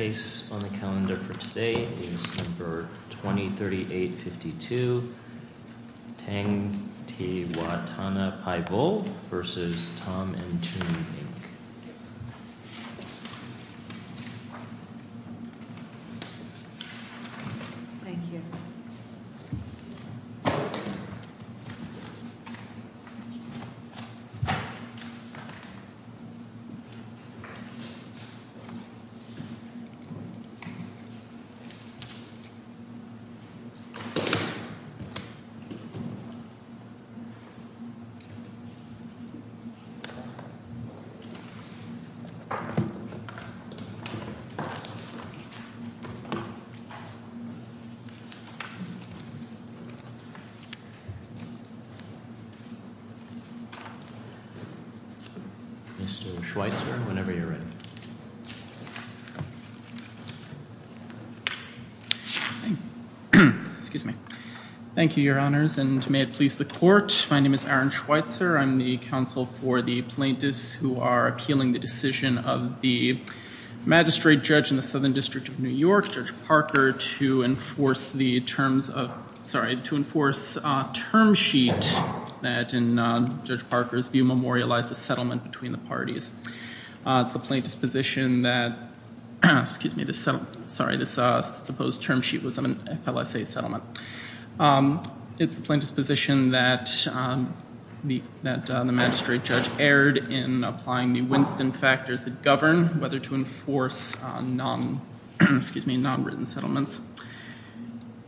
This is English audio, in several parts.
The case on the calendar for today is No. 203852 Tangtiwatanapaibul v. Tom & Toon Inc. Mr. Schweitzer, whenever you're ready. Excuse me. Thank you, your honors, and may it please the court. My name is Aaron Schweitzer. I'm the counsel for the plaintiffs who are appealing the decision of the magistrate judge in the Southern District of New York, Judge Parker, to enforce the terms of, sorry, to enforce term sheet that, in Judge Parker's view, memorialized the settlement between the parties. It's the plaintiff's position that, excuse me, sorry, this supposed term sheet was an FLSA settlement. It's the plaintiff's position that the magistrate judge erred in applying the Winston factors that govern whether to enforce non-written settlements.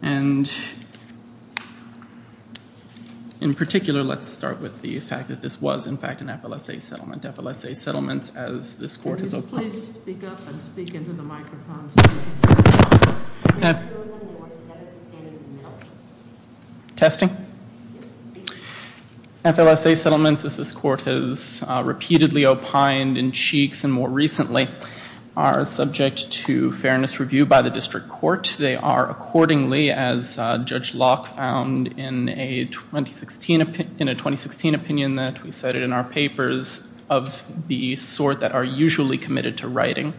And, in particular, let's start with the fact that this was, in fact, an FLSA settlement. FLSA settlements, as this court has opined. Can you stand up and speak into the microphone? Testing. FLSA settlements, as this court has repeatedly opined in cheeks and more recently, are subject to fairness review by the district court. They are accordingly, as Judge Locke found in a 2016 opinion that we cited in our papers, of the sort that are usually committed to writing.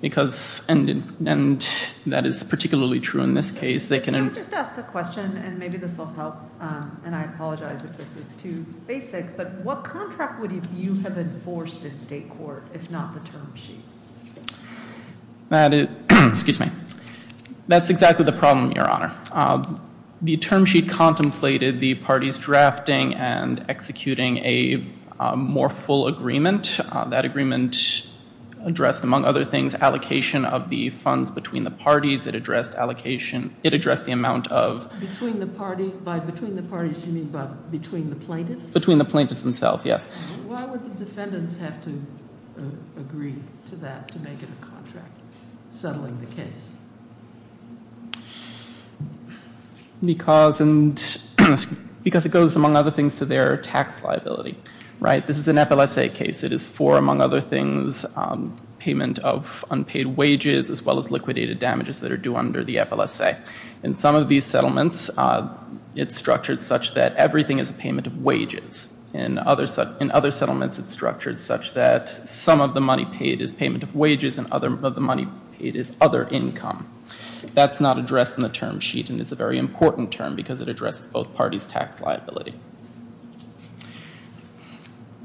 And that is particularly true in this case. Can I just ask a question? And maybe this will help. And I apologize if this is too basic. But what contract would you have enforced in state court if not the term sheet? That is, excuse me, that's exactly the problem, Your Honor. The term sheet contemplated the parties drafting and executing a more full agreement. That agreement addressed, among other things, allocation of the funds between the parties. It addressed allocation, it addressed the amount of Between the parties, by between the parties you mean between the plaintiffs? Between the plaintiffs themselves, yes. Why would the defendants have to agree to that to make it a contract, settling the case? Because it goes, among other things, to their tax liability. This is an FLSA case. It is for, among other things, payment of unpaid wages as well as liquidated damages that are due under the FLSA. In some of these settlements, it's structured such that everything is a payment of wages. In other settlements, it's structured such that some of the money paid is payment of wages and some of the money paid is other income. That's not addressed in the term sheet and it's a very important term because it addresses both parties' tax liability.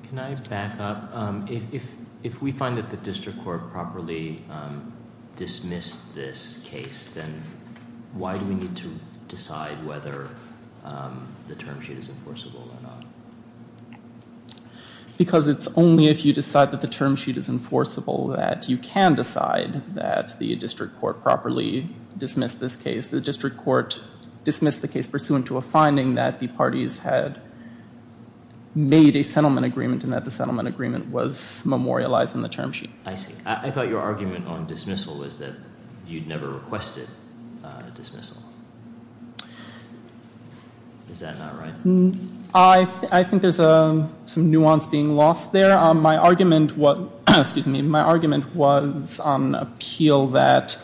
Can I back up? If we find that the district court properly dismissed this case, then why do we need to decide whether the term sheet is enforceable or not? Because it's only if you decide that the term sheet is enforceable that you can decide that the district court properly dismissed this case. The district court dismissed the case pursuant to a finding that the parties had made a settlement agreement and that the settlement agreement was memorialized in the term sheet. I see. I thought your argument on dismissal was that you'd never requested dismissal. Is that not right? I think there's some nuance being lost there. My argument was on appeal that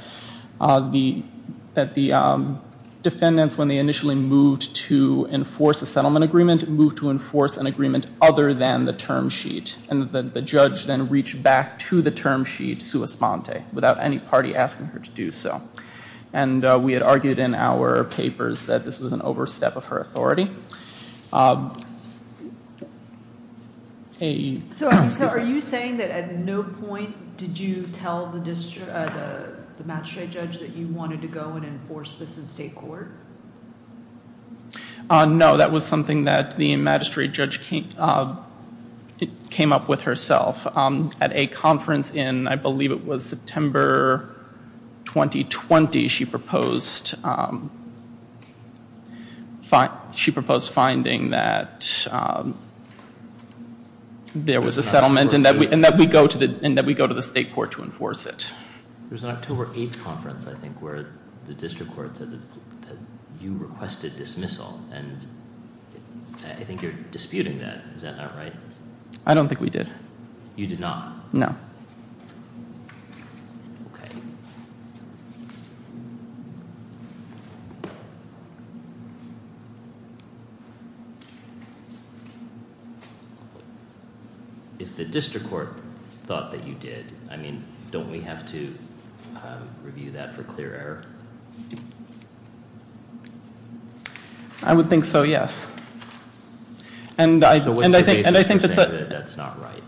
the defendants, when they initially moved to enforce a settlement agreement, moved to enforce an agreement other than the term sheet. And the judge then reached back to the term sheet, sua sponte, without any party asking her to do so. And we had argued in our papers that this was an overstep of her authority. So are you saying that at no point did you tell the magistrate judge that you wanted to go and enforce this in state court? No, that was something that the magistrate judge came up with herself. At a conference in, I believe it was September 2020, she proposed finding that there was a settlement and that we go to the state court to enforce it. There's an October 8th conference, I think, where the district court said that you requested dismissal, and I think you're disputing that. Is that not right? I don't think we did. You did not know. OK. If the district court thought that you did, I mean, don't we have to review that for clear error? I would think so, yes. So what's the basis for saying that that's not right?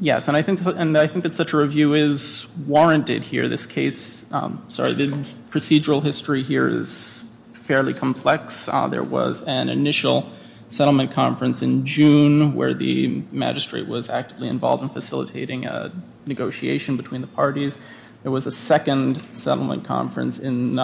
Yes, and I think that such a review is warranted here. This case, sorry, the procedural history here is fairly complex. There was an initial settlement conference in June where the magistrate was actively involved in facilitating a negotiation between the parties. There was a second settlement conference in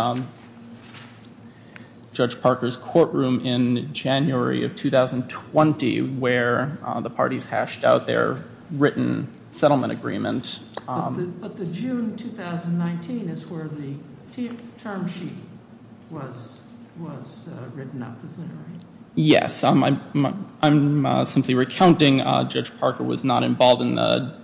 Judge Parker's courtroom in January of 2020 where the parties hashed out their written settlement agreement. But the June 2019 is where the term sheet was written up, is that right? Yes. I'm simply recounting Judge Parker was not involved in the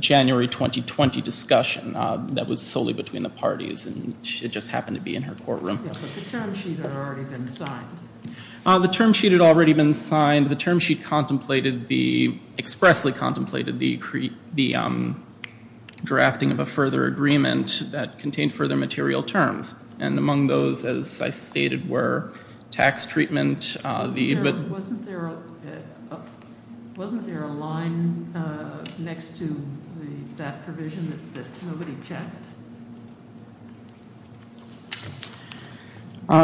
January 2020 discussion. That was solely between the parties, and it just happened to be in her courtroom. But the term sheet had already been signed. The term sheet had already been signed. The term sheet contemplated the, expressly contemplated the drafting of a further agreement that contained further material terms. And among those, as I stated, were tax treatment. Wasn't there a line next to that provision that nobody checked?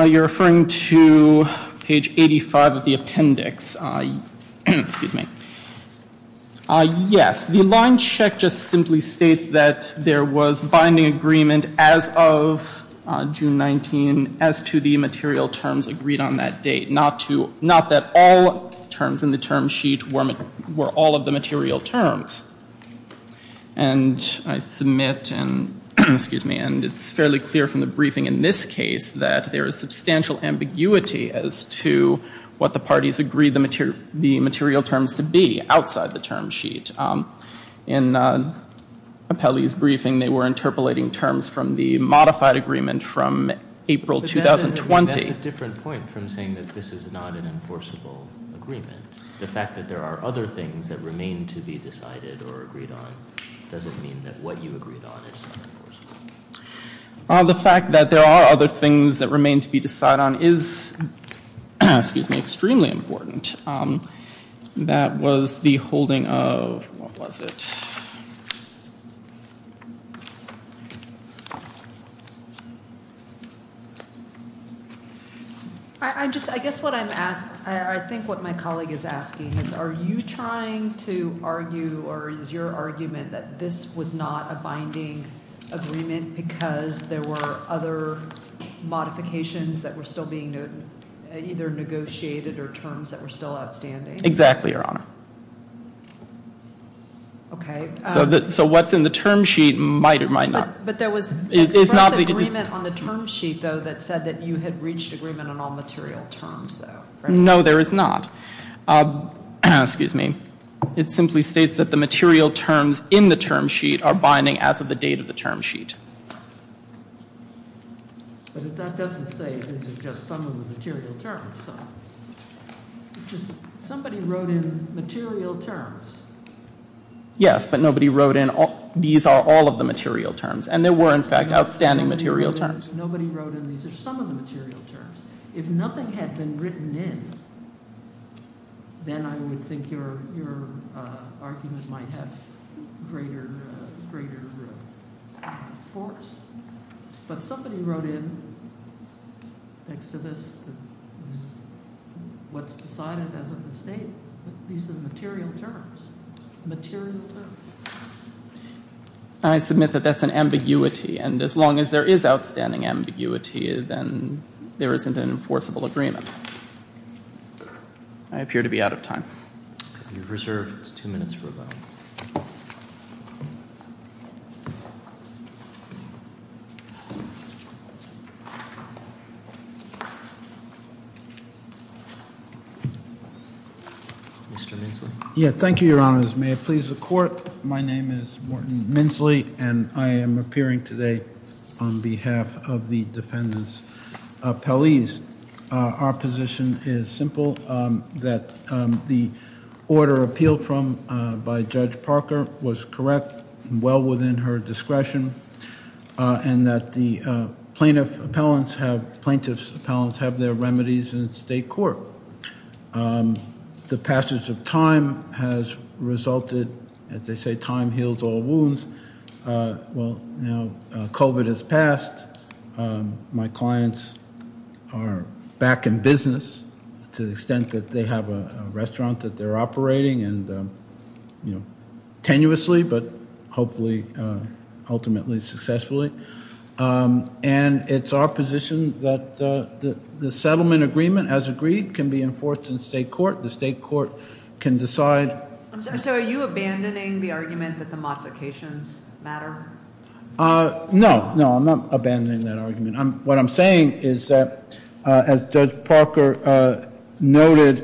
You're referring to page 85 of the appendix. Excuse me. Yes, the line check just simply states that there was binding agreement as of June 19 as to the material terms agreed on that date. Not that all terms in the term sheet were all of the material terms. And I submit and it's fairly clear from the briefing in this case that there is substantial ambiguity as to what the parties agreed the material terms to be outside the term sheet. In Apelli's briefing, they were interpolating terms from the modified agreement from April 2020. That's a different point from saying that this is not an enforceable agreement. The fact that there are other things that remain to be decided or agreed on doesn't mean that what you agreed on is not enforceable. The fact that there are other things that remain to be decided on is, excuse me, extremely important. That was the holding of, what was it? I'm just I guess what I'm asked. I think what my colleague is asking is, are you trying to argue or is your argument that this was not a binding agreement? Because there were other modifications that were still being either negotiated or terms that were still outstanding. Exactly, Your Honor. Okay. So what's in the term sheet might or might not. But there was an agreement on the term sheet, though, that said that you had reached agreement on all material terms, though. No, there is not. Excuse me. It simply states that the material terms in the term sheet are binding as of the date of the term sheet. But that doesn't say this is just some of the material terms. Somebody wrote in material terms. Yes, but nobody wrote in these are all of the material terms. And there were, in fact, outstanding material terms. Nobody wrote in these are some of the material terms. If nothing had been written in, then I would think your argument might have greater force. But somebody wrote in, thanks to this, what's decided as of the date. These are the material terms. Material terms. I submit that that's an ambiguity. And as long as there is outstanding ambiguity, then there isn't an enforceable agreement. I appear to be out of time. You're reserved two minutes for a vote. Mr. Minson. Yes, thank you, Your Honor. May it please the Court. My name is Morton Minsley, and I am appearing today on behalf of the defendant's appellees. Our position is simple, that the order appealed from by Judge Parker was correct and well within her discretion, and that the plaintiff's appellants have their remedies in state court. The passage of time has resulted, as they say, time heals all wounds. Well, now COVID has passed. My clients are back in business to the extent that they have a restaurant that they're operating, and tenuously, but hopefully ultimately successfully. And it's our position that the settlement agreement, as agreed, can be enforced in state court. The state court can decide. So are you abandoning the argument that the modifications matter? No. No, I'm not abandoning that argument. What I'm saying is that, as Judge Parker noted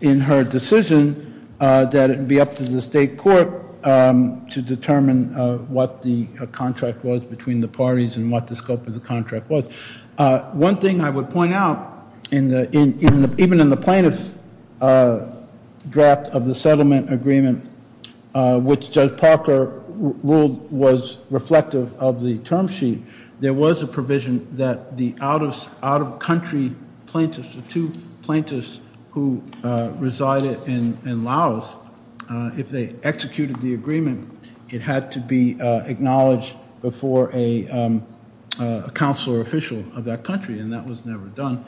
in her decision, that it would be up to the state court to determine what the contract was between the parties and what the scope of the contract was. One thing I would point out, even in the plaintiff's draft of the settlement agreement, which Judge Parker ruled was reflective of the term sheet, there was a provision that the out-of-country plaintiffs, the two plaintiffs who resided in Laos, if they executed the agreement, it had to be acknowledged before a counselor official of that country, and that was never done.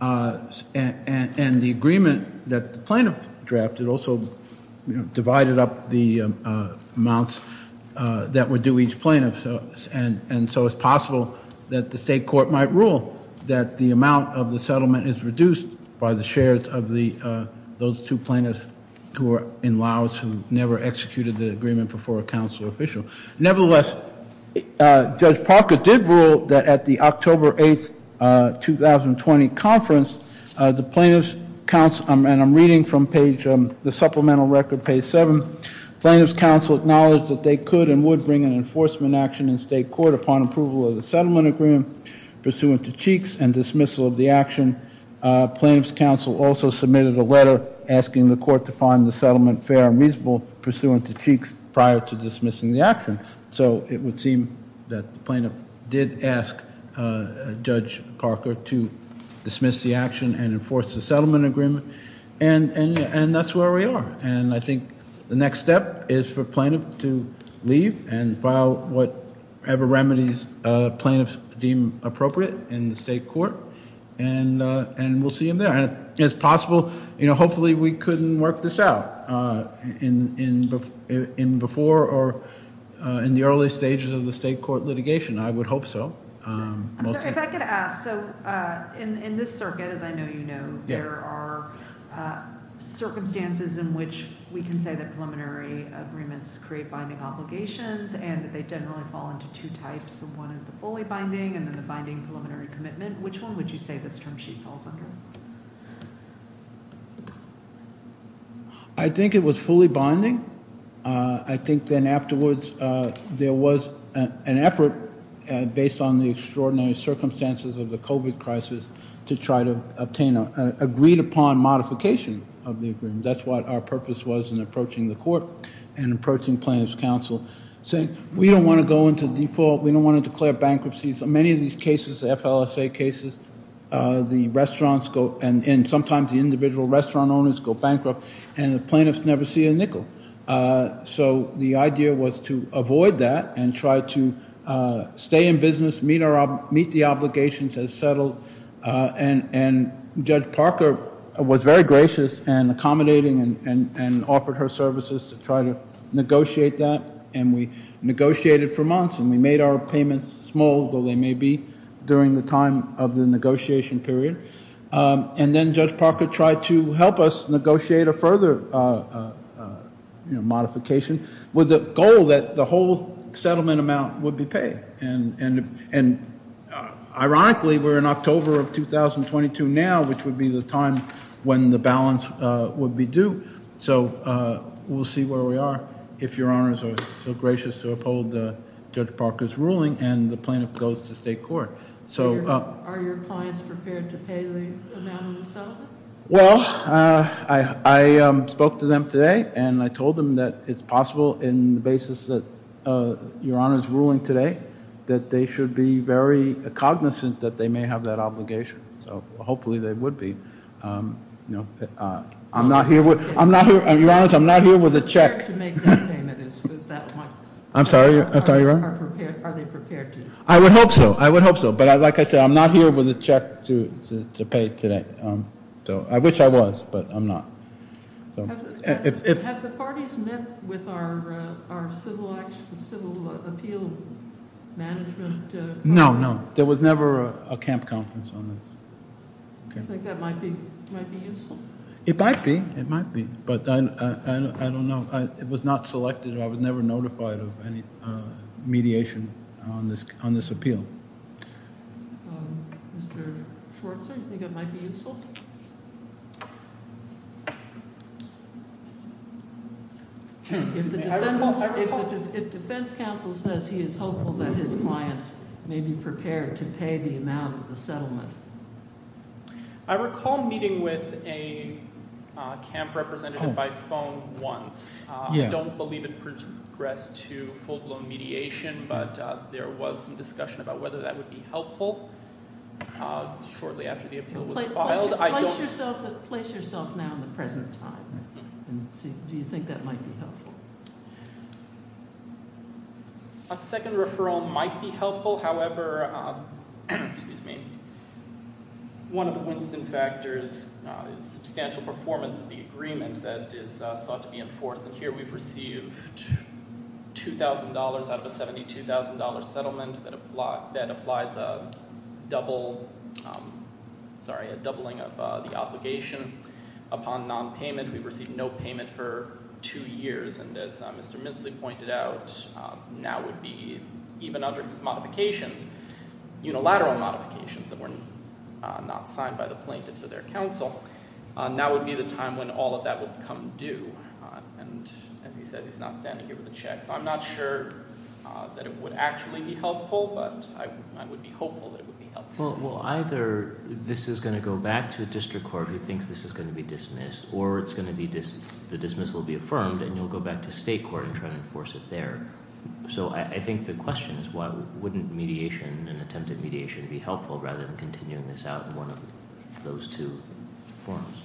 And the agreement that the plaintiff drafted also divided up the amounts that would do each plaintiff, and so it's possible that the state court might rule that the amount of the settlement is reduced by the shares of those two plaintiffs who are in Laos who never executed the agreement before a counselor official. Nevertheless, Judge Parker did rule that at the October 8, 2020, conference, the plaintiff's counsel, and I'm reading from page, the supplemental record, page 7, plaintiff's counsel acknowledged that they could and would bring an enforcement action in state court upon approval of the settlement agreement pursuant to Cheeks and dismissal of the action. Plaintiff's counsel also submitted a letter asking the court to find the settlement fair and reasonable pursuant to Cheeks prior to dismissing the action. So it would seem that the plaintiff did ask Judge Parker to dismiss the action and enforce the settlement agreement, and that's where we are. And I think the next step is for plaintiff to leave and file whatever remedies plaintiffs deem appropriate in the state court, and we'll see them there. And it's possible, you know, hopefully we couldn't work this out in before or in the early stages of the state court litigation. I would hope so. I'm sorry, if I could ask, so in this circuit, as I know you know, there are circumstances in which we can say that preliminary agreements create binding obligations and that they generally fall into two types. One is the fully binding and then the binding preliminary commitment. Which one would you say this term sheet falls under? I think it was fully binding. I think then afterwards there was an effort, based on the extraordinary circumstances of the COVID crisis, to try to obtain an agreed-upon modification of the agreement. That's what our purpose was in approaching the court and approaching plaintiff's counsel, saying we don't want to go into default, we don't want to declare bankruptcies. In many of these cases, the FLSA cases, the restaurants go and sometimes the individual restaurant owners go bankrupt and the plaintiffs never see a nickel. So the idea was to avoid that and try to stay in business, meet the obligations as settled. And Judge Parker was very gracious and accommodating and offered her services to try to negotiate that, and we negotiated for months and we made our payments small, though they may be, during the time of the negotiation period. And then Judge Parker tried to help us negotiate a further modification with the goal that the whole settlement amount would be paid. And ironically, we're in October of 2022 now, which would be the time when the balance would be due. So we'll see where we are, if Your Honors are so gracious to uphold Judge Parker's ruling and the plaintiff goes to state court. Are your clients prepared to pay the amount of the settlement? Well, I spoke to them today and I told them that it's possible, in the basis that Your Honors' ruling today, that they should be very cognizant that they may have that obligation. So hopefully they would be. I'm not here with a check. Are they prepared to make that payment? I'm sorry, Your Honor? Are they prepared to? I would hope so. I would hope so. But like I said, I'm not here with a check to pay today. I wish I was, but I'm not. Have the parties met with our civil appeal management? No, no. There was never a camp conference on this. Do you think that might be useful? It might be. It might be, but I don't know. It was not selected. I was never notified of any mediation on this appeal. Mr. Schwartzer, do you think it might be useful? If the defense counsel says he is hopeful that his clients may be prepared to pay the amount of the settlement. I recall meeting with a camp representative by phone once. I don't believe in progress to full-blown mediation, but there was some discussion about whether that would be helpful. Shortly after the appeal was filed. Place yourself now in the present time. Do you think that might be helpful? A second referral might be helpful. However, one of the Winston factors is substantial performance of the agreement that is sought to be enforced. Here we've received $2,000 out of a $72,000 settlement that applies a doubling of the obligation upon non-payment. We've received no payment for two years. As Mr. Mintzley pointed out, now would be, even under his modifications, unilateral modifications that were not signed by the plaintiffs or their counsel, now would be the time when all of that would become due. As he said, he's not standing here with a check. I'm not sure that it would actually be helpful, but I would be hopeful that it would be helpful. Either this is going to go back to a district court who thinks this is going to be dismissed, or the dismissal will be affirmed and you'll go back to state court and try to enforce it there. I think the question is wouldn't mediation and attempted mediation be helpful rather than continuing this out in one of those two forms?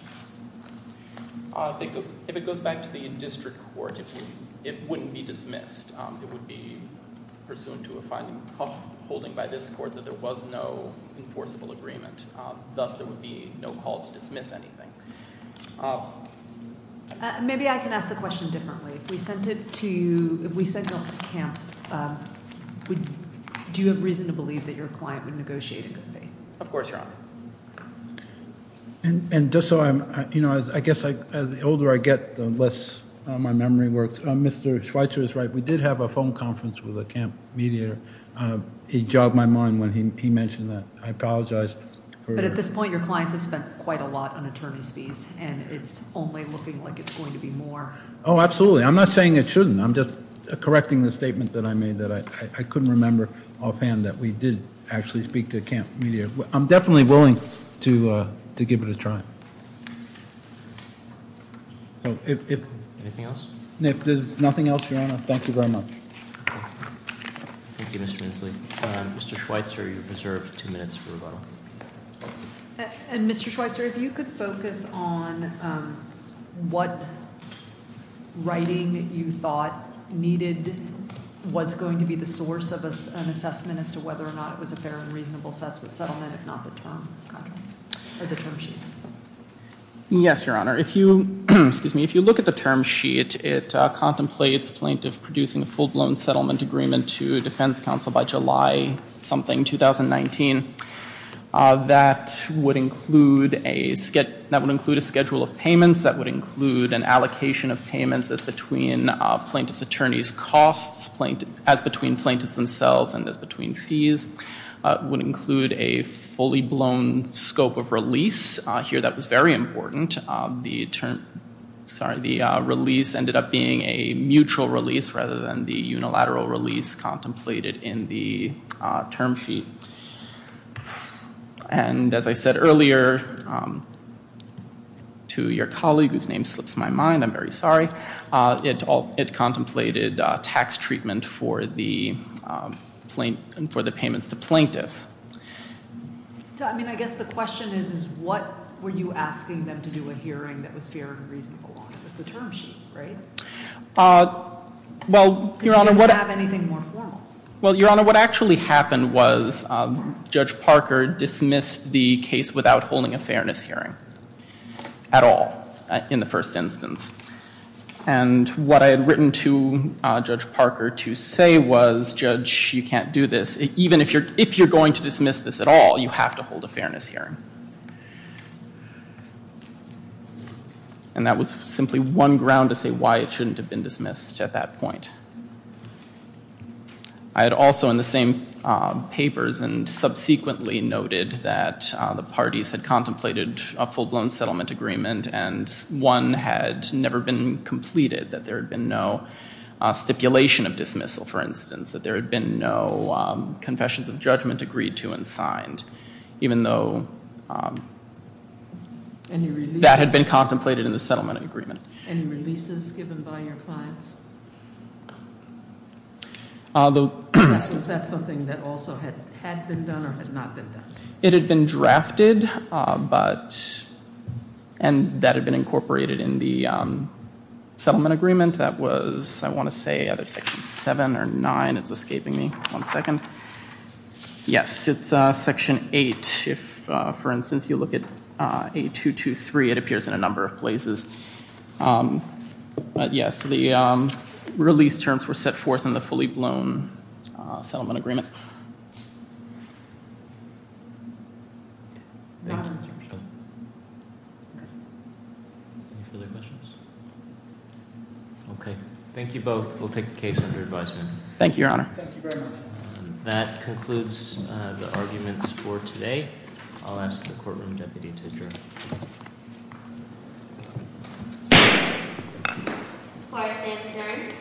If it goes back to the district court, it wouldn't be dismissed. It would be pursuant to a fine holding by this court that there was no enforceable agreement. Thus, there would be no call to dismiss anything. Maybe I can ask the question differently. If we sent you off to camp, do you have reason to believe that your client would negotiate a good pay? Of course, Your Honor. I guess the older I get, the less my memory works. Mr. Schweitzer is right. We did have a phone conference with a camp mediator. He jogged my mind when he mentioned that. I apologize. But at this point, your clients have spent quite a lot on attorney's fees, and it's only looking like it's going to be more. Oh, absolutely. I'm not saying it shouldn't. I'm just correcting the statement that I made that I couldn't remember offhand that we did actually speak to a camp mediator. I'm definitely willing to give it a try. Anything else? Nothing else, Your Honor. Thank you very much. Thank you, Mr. Inslee. Mr. Schweitzer, you're reserved two minutes for rebuttal. And, Mr. Schweitzer, if you could focus on what writing you thought needed, was going to be the source of an assessment as to whether or not it was a fair and reasonable settlement, if not the term sheet. Yes, Your Honor. If you look at the term sheet, it contemplates plaintiff producing a full-blown settlement agreement to defense counsel by July something 2019. That would include a schedule of payments. That would include an allocation of payments as between plaintiff's attorney's costs, as between plaintiffs themselves and as between fees. It would include a fully-blown scope of release. Here, that was very important. The release ended up being a mutual release rather than the unilateral release contemplated in the term sheet. And, as I said earlier to your colleague, whose name slips my mind, I'm very sorry, it contemplated tax treatment for the payments to plaintiffs. So, I mean, I guess the question is, what were you asking them to do a hearing that was fair and reasonable? It was the term sheet, right? Well, Your Honor, what... Did you have anything more formal? Well, Your Honor, what actually happened was Judge Parker dismissed the case without holding a fairness hearing at all in the first instance. And what I had written to Judge Parker to say was, Judge, you can't do this. Even if you're going to dismiss this at all, you have to hold a fairness hearing. And that was simply one ground to say why it shouldn't have been dismissed at that point. I had also in the same papers and subsequently noted that the parties had contemplated a full-blown settlement agreement and one had never been completed. That there had been no stipulation of dismissal, for instance. That there had been no confessions of judgment agreed to and signed. Even though... Any releases? That had been contemplated in the settlement agreement. Any releases given by your clients? Was that something that also had been done or had not been done? It had been drafted, but... And that had been incorporated in the settlement agreement. That was, I want to say, either Section 7 or 9. It's escaping me. One second. Yes, it's Section 8. If, for instance, you look at 8223, it appears in a number of places. But yes, the release terms were set forth in the fully-blown settlement agreement. Thank you, Mr. Pritchett. Any further questions? Okay, thank you both. Thank you, Your Honor. Thank you very much. That concludes the arguments for today. I'll ask the courtroom deputy to adjourn. The court stands adjourned.